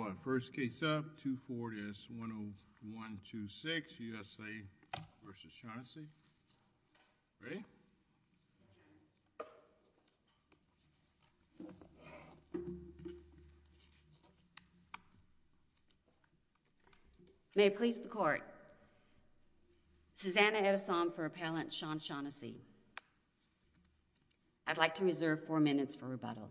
May it please the Court, Susanna Edesom for Appellant Sean Shaughnessy. I'd like to reserve four minutes for rebuttal.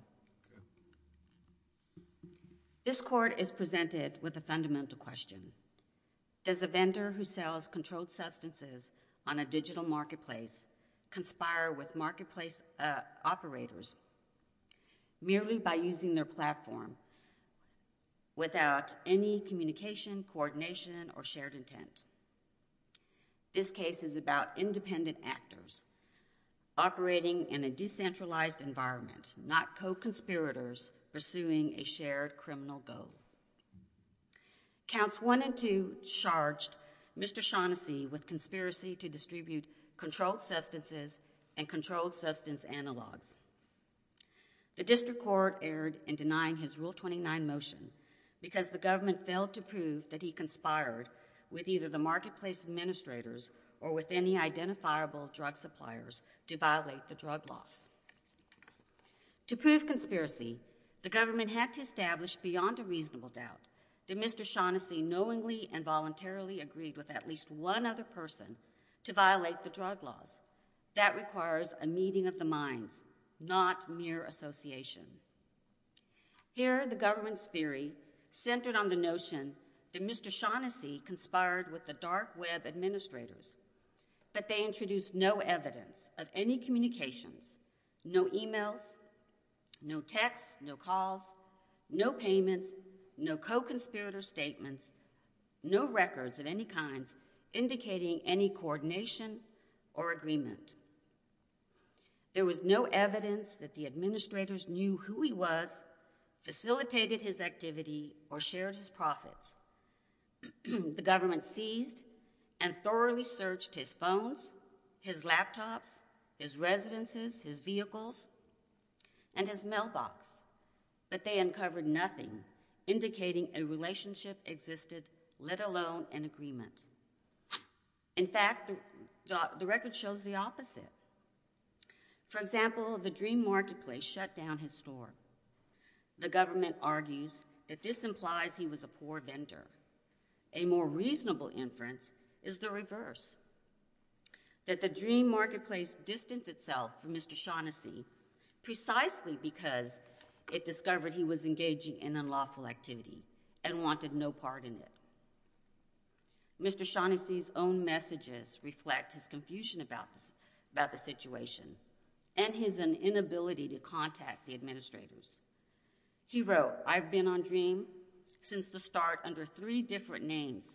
This Court is presented with a fundamental question. Does a vendor who sells controlled substances on a digital marketplace conspire with marketplace operators merely by using their platform without any communication, coordination, or shared intent? This case is about independent actors operating in a decentralized environment, not co-conspirators pursuing a shared criminal goal. Counts 1 and 2 charged Mr. Shaughnessy with conspiracy to distribute controlled substances and controlled substance analogs. The District Court erred in denying his Rule 29 motion because the government failed to prove that he conspired with either the marketplace administrators or with any identifiable drug suppliers to violate the drug laws. To prove conspiracy, the government had to establish beyond a reasonable doubt that Mr. Shaughnessy knowingly and voluntarily agreed with at least one other person to violate the drug laws. That requires a meeting of the minds, not mere association. Here, the evidence theory centered on the notion that Mr. Shaughnessy conspired with the dark web administrators, but they introduced no evidence of any communications, no emails, no texts, no calls, no payments, no co-conspirator statements, no records of any kinds indicating any coordination or agreement. There was no evidence that the administrators knew who he was, facilitated his activity, or shared his profits. The government seized and thoroughly searched his phones, his laptops, his residences, his vehicles, and his mailbox, but they uncovered nothing indicating a relationship existed, let alone an agreement. In fact, the record shows the values that this implies he was a poor vendor. A more reasonable inference is the reverse, that the dream marketplace distanced itself from Mr. Shaughnessy precisely because it discovered he was engaging in unlawful activity and wanted no part in it. Mr. Shaughnessy's own messages reflect his confusion about the situation and his inability to contact the administrators. He wrote, I've been on Dream since the start under three different names.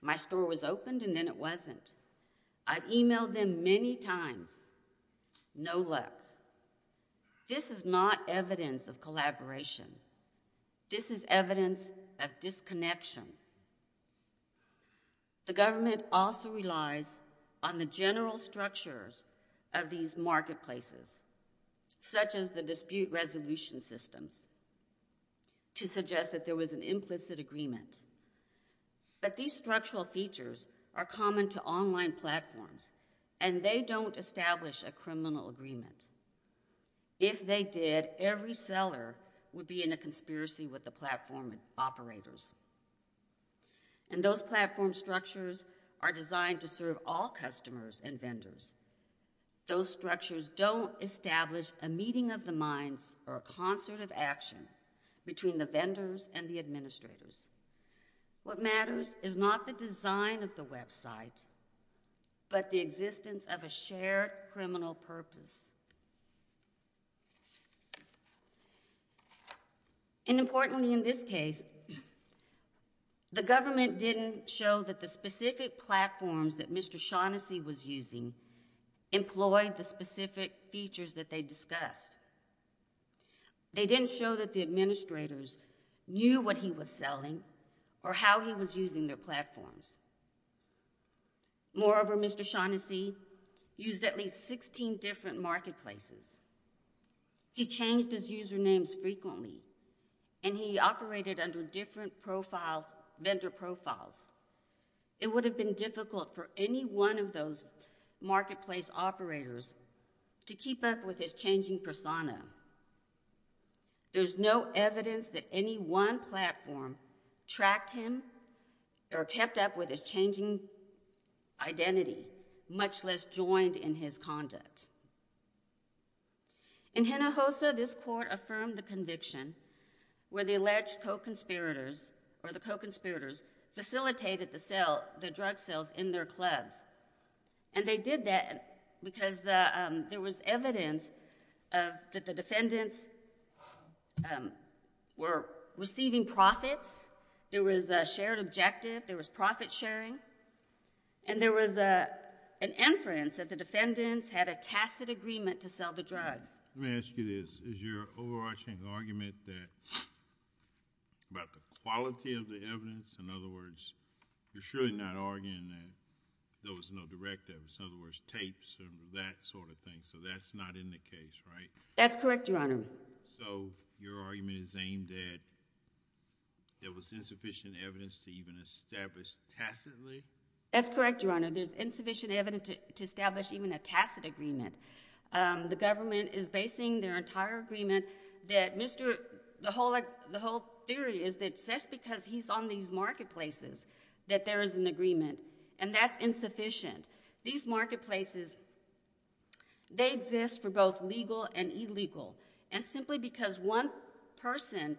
My store was opened and then it wasn't. I've emailed them many times. No luck. This is not evidence of collaboration. This is evidence of disconnection. The government also relies on the general structures of these marketplaces, such as the dispute resolution systems, to suggest that there was an implicit agreement. But these structural features are common to online platforms, and they don't establish a criminal agreement. If they did, every seller would be in a conspiracy with the platform operators. And those platform structures are designed to serve all customers and vendors. Those structures don't establish a meeting of the minds or a concert of action between the vendors and the administrators. What matters is not the design of the website, but the existence of a shared criminal purpose. And importantly in this case, the government didn't show that the specific platforms that Mr. Shaughnessy was using employed the specific features that they discussed. They didn't show that the administrators knew what he was selling or how he was using their platforms. Moreover, Mr. Shaughnessy used at least 16 different marketplaces. He changed his usernames frequently, and he operated under different vendor profiles. It would have been difficult for any one of those marketplace operators to keep up with his changing persona. There's no evidence that any one platform tracked him or kept up with his changing identity, much less joined in his conduct. In Hinojosa, this court affirmed the conviction where the alleged co-conspirators facilitated the drug sales in their clubs. And they did that because there was evidence that the defendants were receiving profits, there was a shared objective, there was profit sharing, and there was an inference that the defendants had a tacit agreement to sell the drugs. Let me ask you this. Is your overarching argument that, about the quality of the evidence, in other words, you're surely not arguing that there was no direct evidence, in other words, tapes and that sort of thing, so that's not in the case, right? That's correct, Your Honor. So your argument is aimed at there was insufficient evidence to even establish tacitly? That's correct, Your Honor. There's insufficient evidence to establish even a tacit agreement. The government is basing their entire agreement that Mr. The whole theory is that just because he's on these marketplaces that there is an agreement, and that's insufficient. These marketplaces, they exist for both legal and illegal. And simply because one person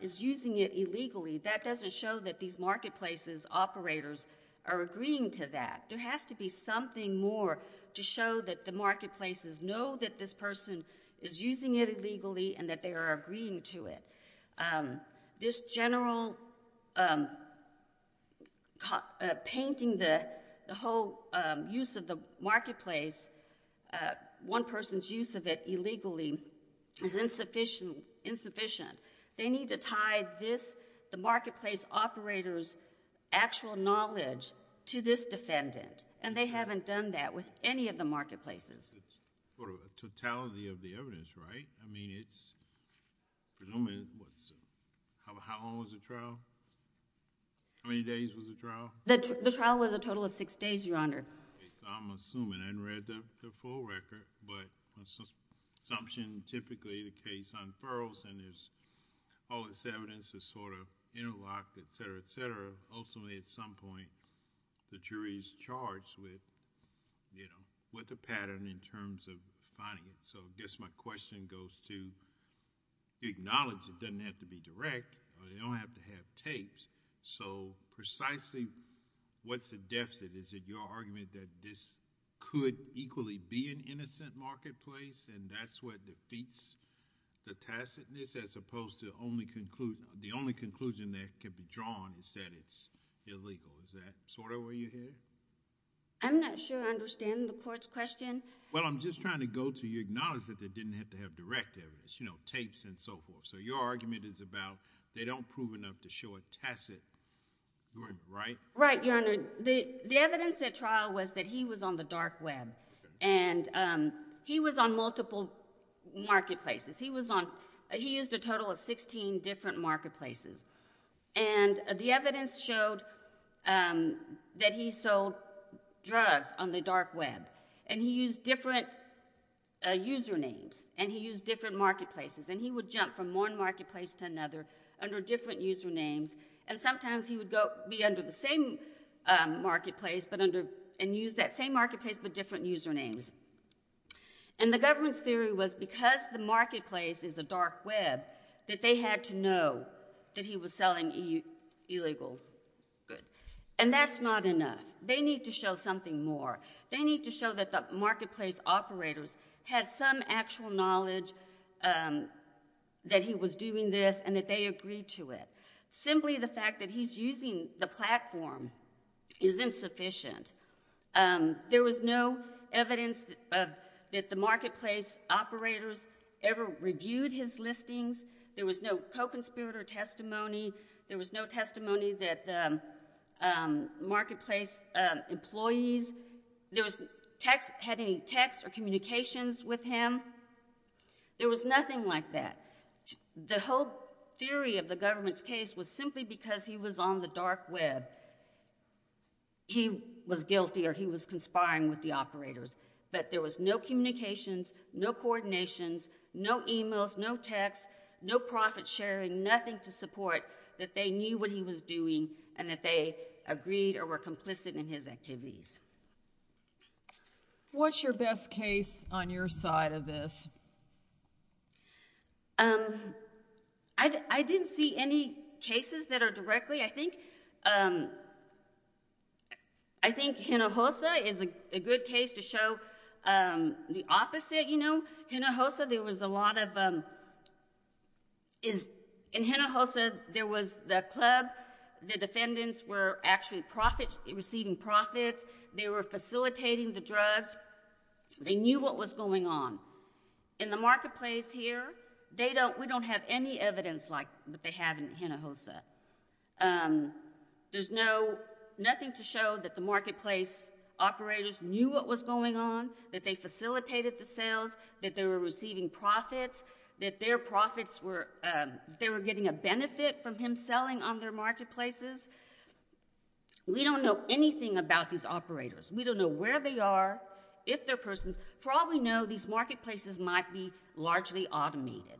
is using it illegally, that doesn't show that these marketplaces operators are agreeing to that. There has to be something more to show that the marketplaces know that this person is using it illegally and that they are agreeing to it. This general painting the whole use of the marketplace, one person's use of it illegally, is insufficient. They need to tie this, the marketplace operators' actual knowledge to this defendant, and they haven't done that with any of the marketplaces. It's sort of a totality of the evidence, right? I mean, it's... How long was the trial? How many days was the trial? The trial was a total of six days, Your Honor. Okay, so I'm assuming. I haven't read the full record, but my assumption, typically the case unfurls, and all this evidence is sort of interlocked, et cetera, et cetera. Ultimately, at some point, the jury is charged with a pattern in terms of finding it. So I guess my question goes to acknowledge it doesn't have to be direct, or they don't have to have tapes. So precisely what's the deficit? Is it your argument that this could equally be an innocent marketplace, and that's what defeats the tacitness, as opposed to the only conclusion that could be drawn is that it's illegal? Is that sort of where you're headed? I'm not sure I understand the Court's question. Well, I'm just trying to go to you acknowledge that they didn't have to have direct evidence, you know, tapes and so forth. So your argument is about they don't prove enough to show a tacit agreement, right? Right, Your Honor. The evidence at trial was that he was on the dark web, and he was on multiple marketplaces. He used a total of 16 different marketplaces, and the evidence showed that he sold drugs on the dark web, and he used different usernames, and he used different marketplaces, and he would jump from one marketplace to another under different usernames, and sometimes he would be under the same marketplace and use that same marketplace but different usernames. And the government's theory was because the marketplace is the dark web, that they had to know that he was selling illegal goods. And that's not enough. They need to show something more. They need to show that the marketplace operators had some actual knowledge that he was doing this and that they agreed to it. Simply the fact that he's using the platform is insufficient. There was no evidence that the marketplace operators ever reviewed his listings. There was no co-conspirator testimony. There was no testimony that the marketplace employees had any texts or communications with him. There was nothing like that. The whole theory of the government's case was simply because he was on the dark web, he was guilty or he was conspiring with the operators. But there was no communications, no coordinations, no emails, no texts, no profit sharing, nothing to support that they knew what he was doing and that they agreed or were complicit in his activities. What's your best case on your side of this? I didn't see any cases that are directly, I think, I think Hinojosa is a good case to show the opposite, you know. Hinojosa, there was a lot of, in Hinojosa, there was the club, the defendants were actually receiving profits, they were facilitating the drugs, they knew what was going on. In the marketplace here, they don't, we don't have any evidence like what they have in Hinojosa. There's no, nothing to show that the marketplace operators knew what was going on, that they facilitated the sales, that they were receiving profits, that their profits were, that they were getting a benefit from him selling on their marketplaces. We don't know anything about these operators. We don't know where they are, if they're persons. For all we know, these marketplaces might be largely automated.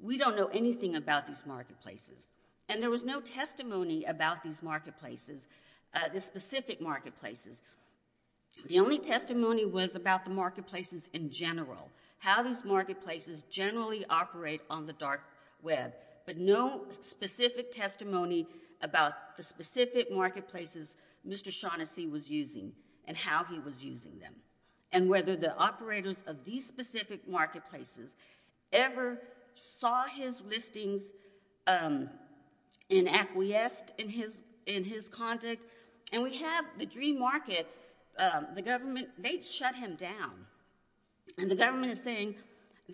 We don't know anything about these marketplaces. And there was no testimony about these marketplaces, the specific marketplaces. The only testimony was about the marketplaces in general, how these marketplaces generally operate on the dark web, but no specific testimony about the specific marketplaces Mr. Shaughnessy was using and how he was using them, and whether the operators of these specific marketplaces ever saw his listings in acquiesced in his conduct. And we have the Dream Market, the government, they shut him down. And the government is saying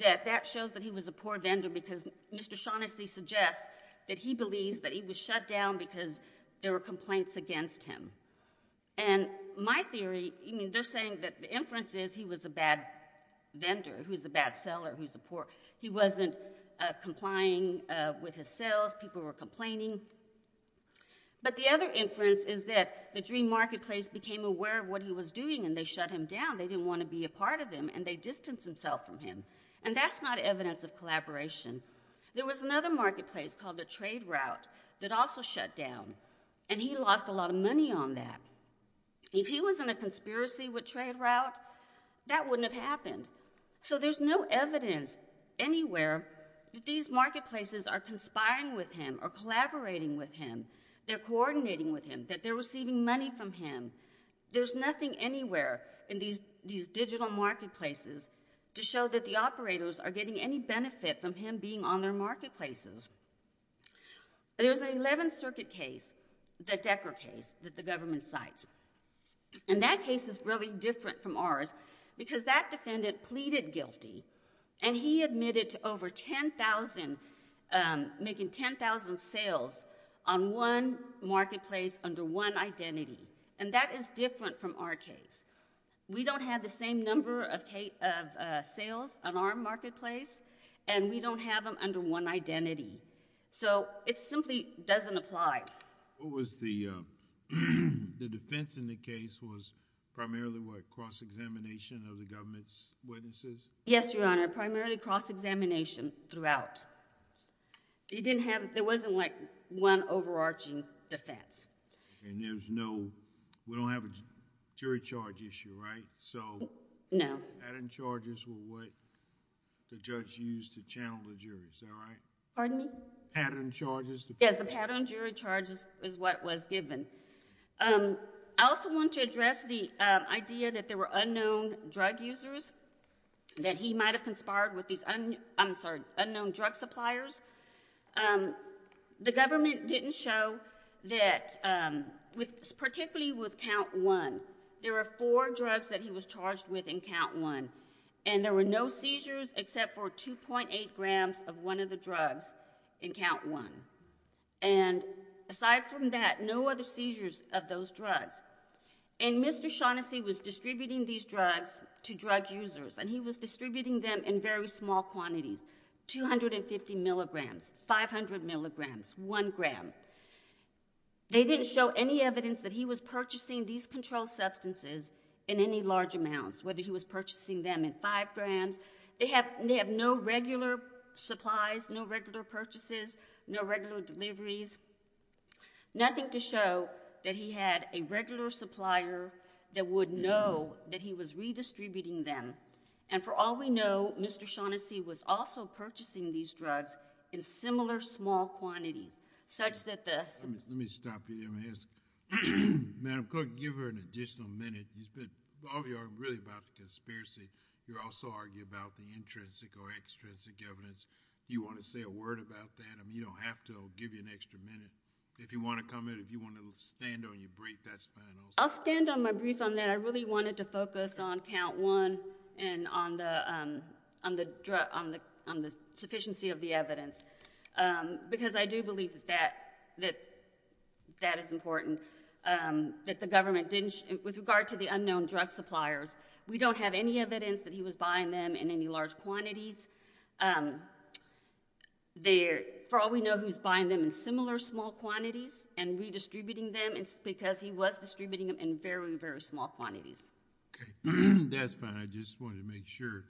that that shows that he was a poor vendor because Mr. Shaughnessy suggests that he believes that he was shut down because there were complaints against him. And my theory, I mean, they're saying that the inference is he was a bad vendor, who's a bad seller, who's a poor, he wasn't complying with his sales, people were complaining. But the other inference is that the Dream Marketplace became aware of what he was doing and they shut him down. They didn't want to be a part of him and they distanced themselves from him. And that's not evidence of collaboration. There was another marketplace called the Trade Route that also shut down, and he lost a lot of money on that. If he was in a conspiracy with Trade Route, that wouldn't have happened. So there's no evidence anywhere that these marketplaces are conspiring with him or collaborating with him. They're coordinating with him, that they're receiving money from him. There's nothing anywhere in these digital marketplaces to show that the operators are getting any benefit from him being on their marketplaces. There's an 11th Circuit case, the Decker case, that the government cites. And that case is really different from ours because that defendant pleaded guilty and he admitted to over 10,000, making 10,000 sales on one marketplace under one identity. And that is different from our case. We don't have the same number of sales on our marketplace, and we don't have them under one identity. So it simply doesn't apply. What was the defense in the case was primarily what, cross-examination of the government's witnesses? Yes, Your Honor, primarily cross-examination throughout. There wasn't like one overarching defense. And there's no, we don't have a jury charge issue, right? No. So pattern charges were what the judge used to channel the jury, is that right? Pardon me? Pattern charges. Yes, the pattern jury charges is what was given. I also want to address the idea that there were unknown drug users, that he might have conspired with these unknown drug suppliers. The government didn't show that, particularly with count one, there were four drugs that he was charged with in count one, and there were no seizures except for 2.8 grams of one of the drugs in count one. And aside from that, no other seizures of those drugs. And Mr. Shaughnessy was distributing these drugs to drug users, and he was distributing them in very small quantities, 250 milligrams, 500 milligrams, 1 gram. They didn't show any evidence that he was purchasing these controlled substances in any large amounts, whether he was purchasing them in 5 grams. They have no regular supplies, no regular purchases, no regular deliveries, nothing to show that he had a regular supplier that would know that he was redistributing them. And for all we know, Mr. Shaughnessy was also purchasing these drugs in similar small quantities, such that the... Let me stop you there and ask. Madam Clerk, give her an additional minute. All of you are really about the conspiracy. You also argue about the intrinsic or extrinsic evidence. Do you want to say a word about that? I mean, you don't have to. I'll give you an extra minute. If you want to comment, if you want to stand on your brief, that's fine also. I'll stand on my brief on that. I really wanted to focus on count one and on the sufficiency of the evidence, because I do believe that that is important, that the government didn't... With regard to the unknown drug suppliers, we don't have any evidence that he was buying them in any large quantities. For all we know, he was buying them in similar small quantities and redistributing them, because he was distributing them in very, very small quantities. Okay. That's fine. I just wanted to make sure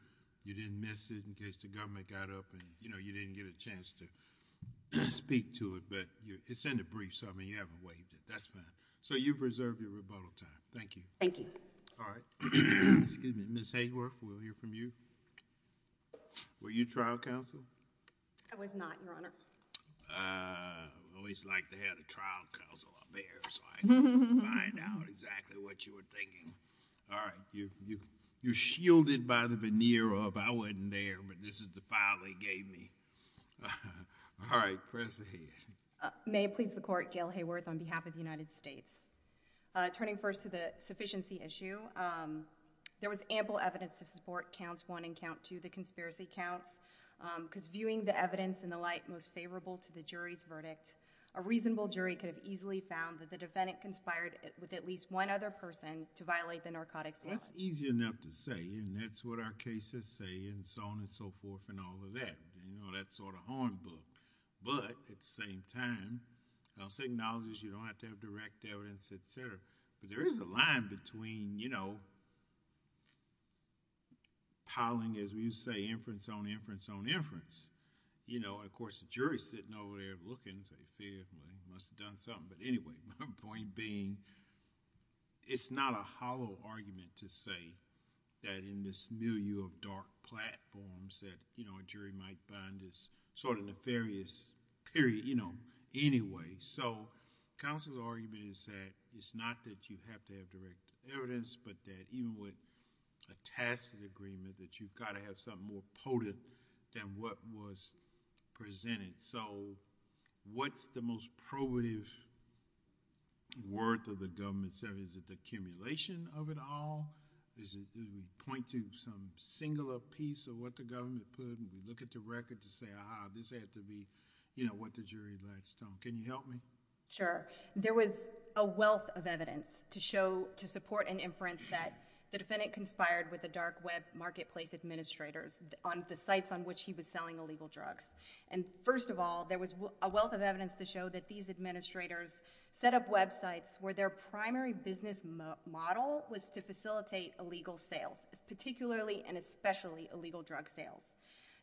you didn't miss it in case the government got up and you didn't get a chance to speak to it. But it's in the brief, so I mean, you haven't waived it. That's fine. So you've reserved your rebuttal time. Thank you. Thank you. All right. Excuse me. Ms. Hayworth, we'll hear from you. Were you trial counsel? I was not, Your Honor. I always like to have the trial counsel up here so I can find out exactly what you were thinking. All right. You're shielded by the veneer of, I wasn't there, but this is the file they gave me. All right. Press ahead. May it please the Court, Gail Hayworth on behalf of the United States. Turning first to the sufficiency issue, there was ample evidence to support count one and count two, the conspiracy counts, because viewing the evidence in the light most favorable to the jury's verdict, a reasonable jury could have easily found that the defendant conspired with at least one other person to violate the narcotics. That's easy enough to say, and that's what our cases say and so on and so forth and all of that. That's sort of hornbook. But at the same time, I'll say acknowledge you don't have to have direct evidence, et cetera. But there is a line between, you know, piling, as we say, inference on inference on inference. Of course, the jury is sitting over there looking and saying, well, he must have done something. But anyway, my point being, it's not a hollow argument to say that in this milieu of dark platforms that a jury might find this sort of nefarious period. Anyway, so counsel's argument is that it's not that you have to have direct evidence, but that even with a tacit agreement, that you've got to have something more potent than what was presented. So what's the most probative worth of the government's service? Is it the accumulation of it all? Is it that we point to some singular piece of what the government put and we look at the record to say, aha, this had to be, you know, what the jury last done? Can you help me? Sure. There was a wealth of evidence to show, to support an inference that the defendant conspired with the dark web marketplace administrators on the sites on which he was selling illegal drugs. And first of all, there was a wealth of evidence to show that these administrators set up websites where their primary business model was to facilitate illegal sales, particularly and especially illegal drug sales.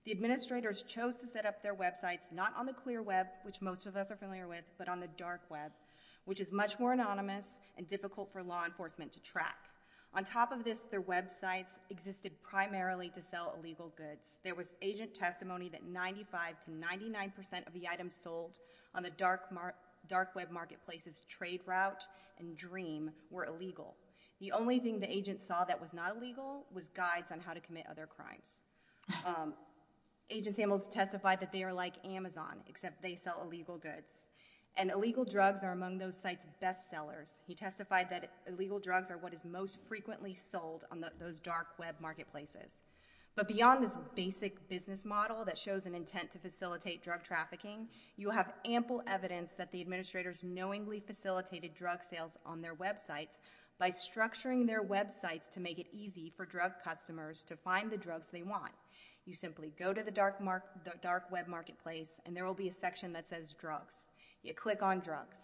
The administrators chose to set up their websites not on the clear web, which most of us are familiar with, but on the dark web, which is much more anonymous and difficult for law enforcement to track. On top of this, their websites existed primarily to sell illegal goods. There was agent testimony that 95 to 99% of the items sold on the dark web marketplace's trade route and dream were illegal. The only thing the agent saw that was not illegal was guides on how to commit other crimes. Agent Samuels testified that they are like Amazon, except they sell illegal goods. And illegal drugs are among those sites' best sellers. He testified that illegal drugs are what is most frequently sold on those dark web marketplaces. But beyond this basic business model that shows an intent to facilitate drug trafficking, you have ample evidence that the administrators knowingly facilitated drug sales on their websites by structuring their websites to make it easy for drug customers to find the drugs they want. You simply go to the dark web marketplace and there will be a section that says drugs. You click on drugs.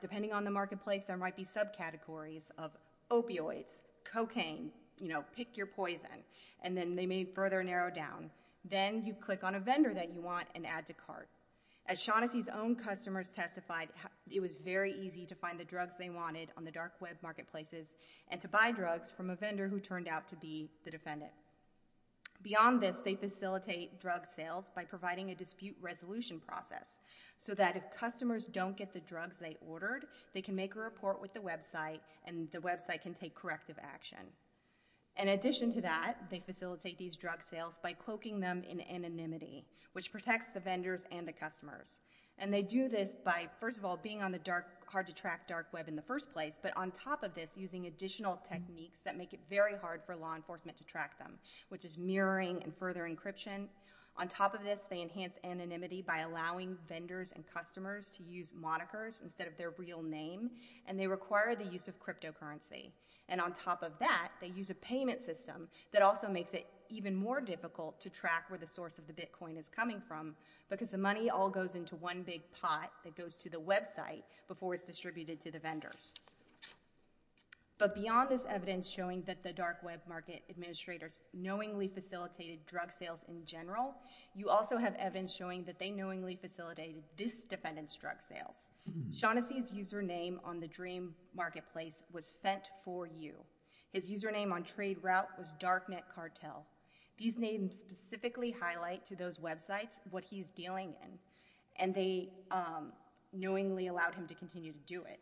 Depending on the marketplace, there might be subcategories of opioids, cocaine, pick your poison, and then they may further narrow down. Then you click on a vendor that you want and add to cart. As Shaughnessy's own customers testified, it was very easy to find the drugs they wanted on the dark web marketplaces and to buy drugs from a vendor who turned out to be the defendant. Beyond this, they facilitate drug sales by providing a dispute resolution process so that if customers don't get the drugs they ordered, they can make a report with the website and the website can take corrective action. In addition to that, they facilitate these drug sales by cloaking them in anonymity, which protects the vendors and the customers. They do this by, first of all, being on the hard-to-track dark web in the first place, but on top of this, using additional techniques that make it very hard for law enforcement to track them, which is mirroring and further encryption. On top of this, they enhance anonymity by allowing vendors and customers to use monikers instead of their real name and they require the use of cryptocurrency. On top of that, they use a payment system that also makes it even more difficult to track where the source of the bitcoin is coming from because the money all goes into one big pot that goes to the website before it's distributed to the vendors. But beyond this evidence showing that the dark web market administrators knowingly facilitated drug sales in general, you also have evidence showing that they knowingly facilitated this defendant's drug sales. Shaughnessy's username on the Dream Marketplace was Fent4U. His username on TradeRoute was DarkNetCartel. These names specifically highlight to those websites what he's dealing in and they knowingly allowed him to continue to do it.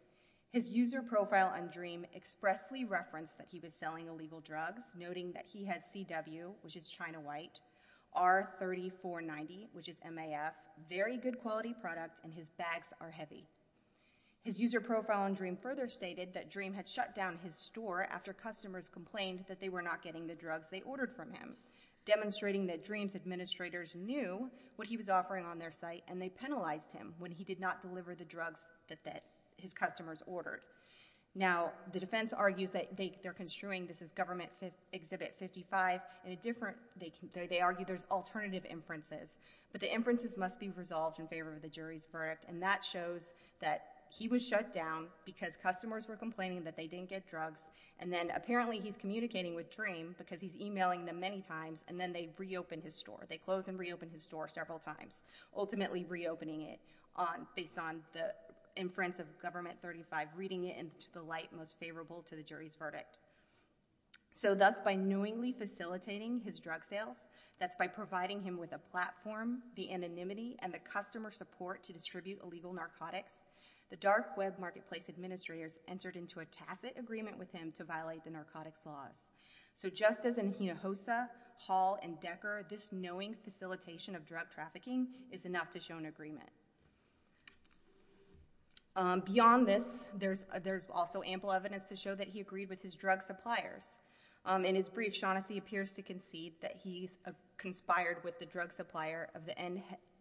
His user profile on Dream expressly referenced that he was selling illegal drugs, noting that he has CW, which is China White, R3490, which is MAF, very good quality product and his bags are heavy. His user profile on Dream further stated that Dream had shut down his store after customers complained that they were not getting the drugs they ordered from him, demonstrating that Dream's administrators knew what he was offering on their site and they penalized him when he did not deliver the drugs that his customers ordered. Now, the defense argues that they're construing, this is Government Exhibit 55, they argue there's alternative inferences, but the inferences must be resolved in favor of the jury's verdict and that shows that he was shut down because customers were complaining that they didn't get drugs and then apparently he's communicating with Dream because he's emailing them many times and then they reopened his store. They closed and reopened his store several times, ultimately reopening it based on the inference of Government 35, reading it in the light most favorable to the jury's verdict. So thus by knowingly facilitating his drug sales, that's by providing him with a platform, the anonymity and the customer support to distribute illegal narcotics, the Dark Web Marketplace administrators entered into a tacit agreement with him to violate the narcotics laws. So just as in Hinojosa, Hall, and Decker, this knowing facilitation of drug trafficking is enough to show an agreement. Beyond this, there's also ample evidence to show that he agreed with his drug suppliers. In his brief, Shaughnessy appears to concede that he's conspired with the drug supplier of the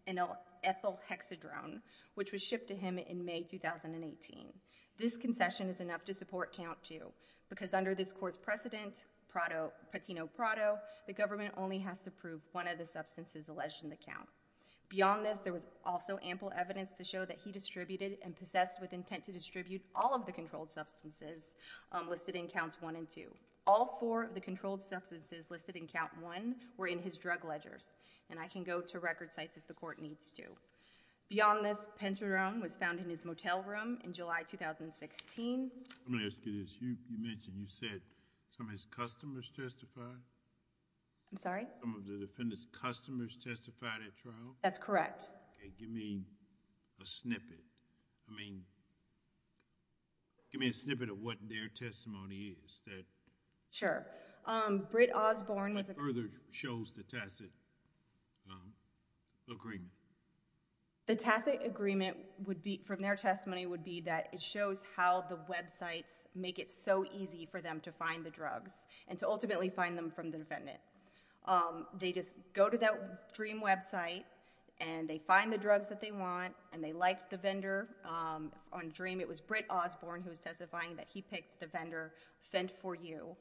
ethylhexadrone, which was shipped to him in May 2018. This concession is enough to support Count 2 because under this court's precedent, patino prado, the government only has to approve one of the substances alleged in the count. Beyond this, there was also ample evidence to show that he distributed and possessed with intent to distribute all of the controlled substances listed in Counts 1 and 2. All four of the controlled substances listed in Count 1 were in his drug ledgers and I can go to record sites if the court needs to. Beyond this, pentadrone was found in his motel room in July 2016. I'm going to ask you this. You mentioned you said some of his customers testified? I'm sorry? Some of the defendant's customers testified at trial? That's correct. Okay, give me a snippet. I mean, give me a snippet of what their testimony is. Sure. What further shows the tacit agreement? The tacit agreement from their testimony would be that it shows how the websites make it so easy for them to find the drugs and to ultimately find them from the defendant. They just go to that Dream website and they find the drugs that they want and they like the vendor. On Dream, it was Brit Osborne who was testifying that he picked the vendor, Fent4U,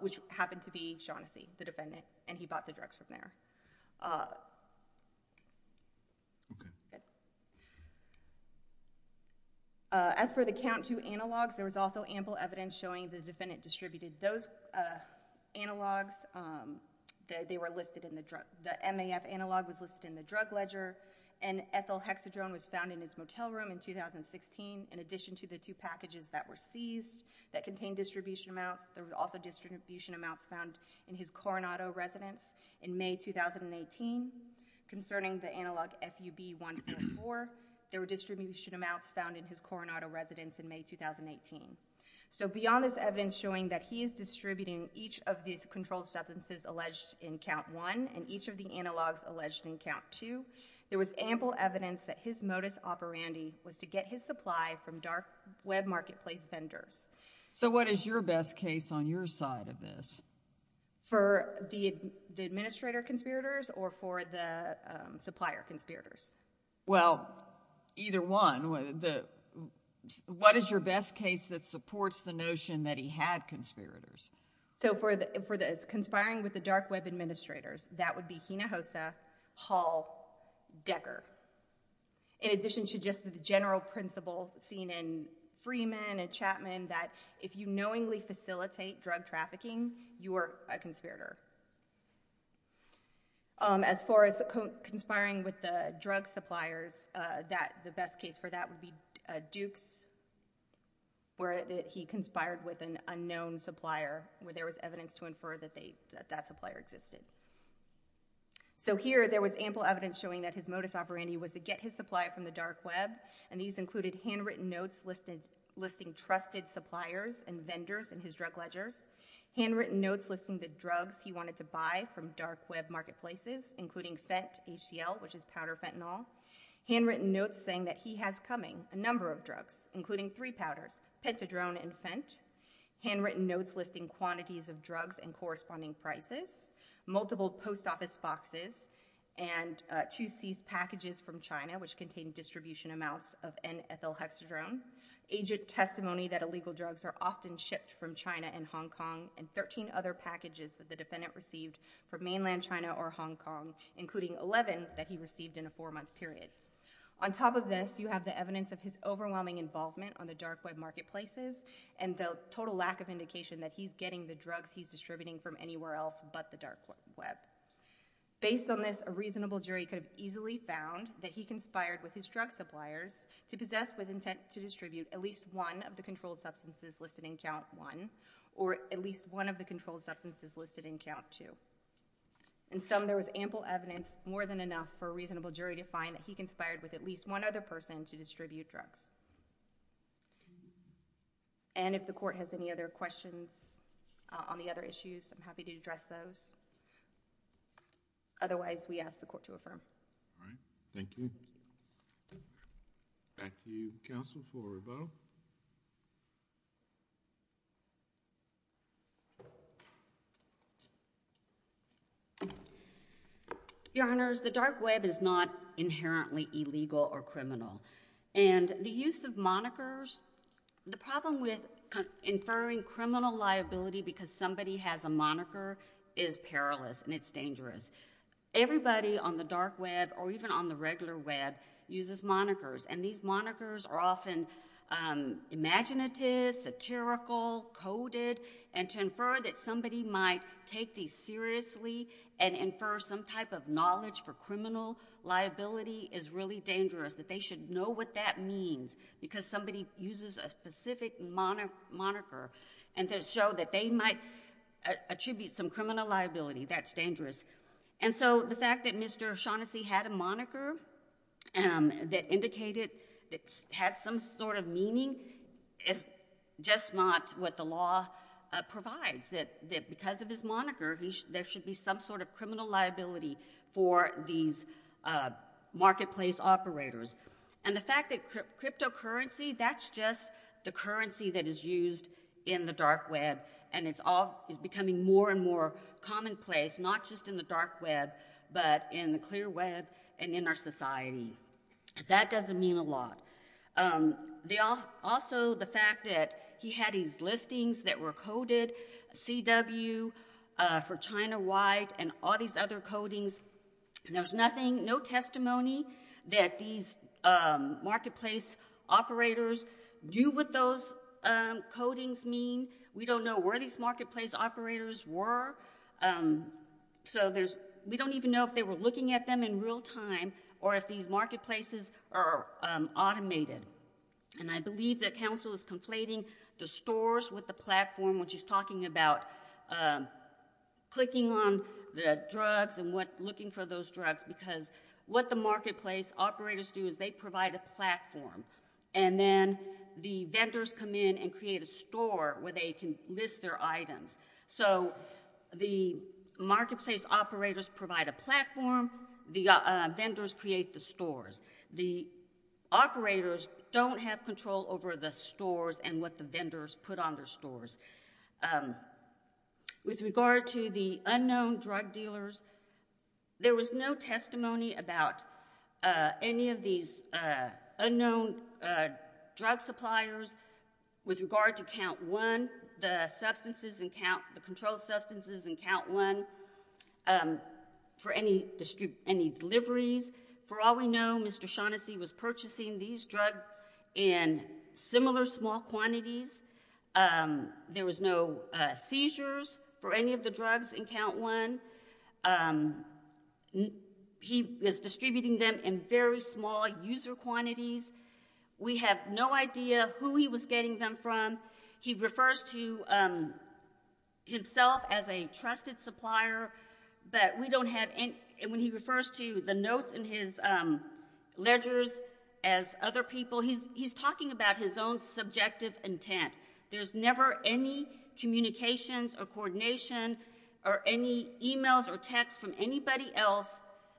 which happened to be Shaughnessy, the defendant, and he bought the drugs from there. Okay. As for the Count 2 analogs, there was also ample evidence showing the defendant distributed those analogs. The MAF analog was listed in the drug ledger and ethylhexadrone was found in his motel room in 2016. In addition to the two packages that were seized that contained distribution amounts, there were also distribution amounts found in his Coronado residence in May 2018. Concerning the analog FUB-144, there were distribution amounts found in his Coronado residence in May 2018. So beyond this evidence showing that he is distributing each of these controlled substances alleged in Count 1 and each of the analogs alleged in Count 2, there was ample evidence that his modus operandi was to get his supply from dark web marketplace vendors. So what is your best case on your side of this? For the administrator conspirators or for the supplier conspirators? Well, either one. What is your best case that supports the notion that he had conspirators? So for the conspiring with the dark web administrators, that would be Hinojosa, Hall, Decker. In addition to just the general principle seen in Freeman and Chapman that if you knowingly facilitate drug trafficking, you are a conspirator. As far as conspiring with the drug suppliers, the best case for that would be Dukes where he conspired with an unknown supplier where there was So here there was ample evidence showing that his modus operandi was to get his supply from the dark web and these included handwritten notes listing trusted suppliers and vendors in his drug ledgers. Handwritten notes listing the drugs he wanted to buy from dark web marketplaces including Fent, HCL, which is powder fentanyl. Handwritten notes saying that he has coming a number of drugs including three powders, Pentadrone and Fent. Handwritten notes listing quantities of drugs and corresponding prices. Multiple post office boxes and two seized packages from China which contained distribution amounts of N-ethyl hexadrone. Agent testimony that illegal drugs are often shipped from China and Hong Kong and 13 other packages that the defendant received from mainland China or Hong Kong including 11 that he received in a four month period. On top of this, you have the evidence of his overwhelming involvement on the dark web marketplaces and the total lack of indication that he's getting the drugs he's distributing from anywhere else but the dark web. Based on this, a reasonable jury could have easily found that he conspired with his drug suppliers to possess with intent to distribute at least one of the controlled substances listed in count one or at least one of the controlled substances listed in count two. In sum, there was ample evidence more than enough for a reasonable jury to find that he conspired with at least one other person to distribute drugs. And if the court has any other questions on the other issues, I'm happy to address those. Otherwise, we ask the court to affirm. Thank you. Back to you counsel for rebuttal. Your honors, the dark web is not inherently illegal or criminal. The use of monikers, the problem with inferring criminal liability because somebody has a moniker is perilous and it's dangerous. Everybody on the dark web or even on the regular web uses monikers and these monikers are often imaginative, satirical, coded and to infer that somebody might take these seriously and infer some type of that's really dangerous, that they should know what that means because somebody uses a specific moniker and to show that they might attribute some criminal liability, that's dangerous. And so the fact that Mr. Shaughnessy had a moniker that indicated that had some sort of meaning is just not what the law provides, that because of his moniker there should be some sort of criminal liability for these marketplace operators. And the fact that cryptocurrency, that's just the currency that is used in the dark web and it's becoming more and more commonplace, not just in the dark web but in the clear web and in our society. That doesn't mean a lot. Also the fact that he had these listings that were coded, CW for China White and all these other codings and there's nothing, no testimony that these marketplace operators do what those codings mean. We don't know where these marketplace operators were. So there's, we don't even know if they were looking at them in real time or if these marketplaces are automated. And I believe that counsel is conflating the stores with the platform which is talking about clicking on the drugs and looking for those drugs because what the marketplace operators do is they provide a platform and then the vendors come in and create a store where they can list their items. So the marketplace operators provide a platform, the vendors create the stores. The operators don't have control over the stores and what the vendors put on their stores. With regard to the unknown drug dealers, there was no testimony about any of these unknown drug suppliers with regard to count one, the substances, the controlled substances in count one for any deliveries. For all we know, Mr. Shaughnessy was purchasing these drugs in similar small quantities. There was no seizures for any of the drugs in count one. He was distributing them in very small user quantities. We have no idea who he was getting them from. He refers to himself as a trusted supplier but when he refers to the notes in his ledgers as other people, he's talking about his own subjective intent. There's never any communications or coordination or any emails or texts from anybody else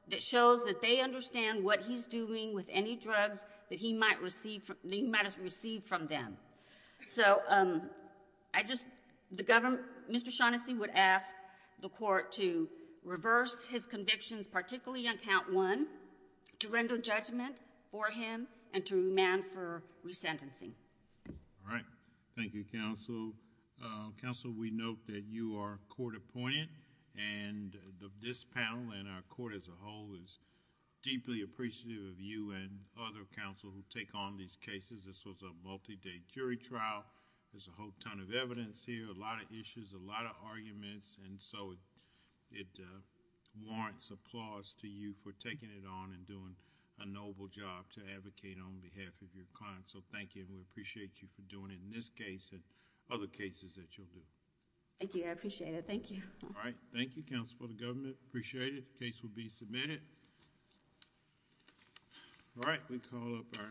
that shows that they understand what he's doing with any drugs that he might have received from them. So Mr. Shaughnessy would ask the court to reverse his convictions, particularly on count one, to render judgment for him and to demand for resentencing. Thank you, counsel. Counsel, we note that you are court appointed and this panel and our court as a whole is deeply appreciative of you and other counsel who take on these cases. This was a multi-day jury trial. There's a whole ton of evidence here, a lot of issues, a lot of arguments and so it warrants applause to you for taking it on and doing a noble job to advocate on behalf of your client. So thank you and we appreciate you for doing it in this case and other cases that you'll do. Thank you. I appreciate it. Thank you. Thank you, counsel for the government. Appreciate it. The case will be submitted. All right. We call up our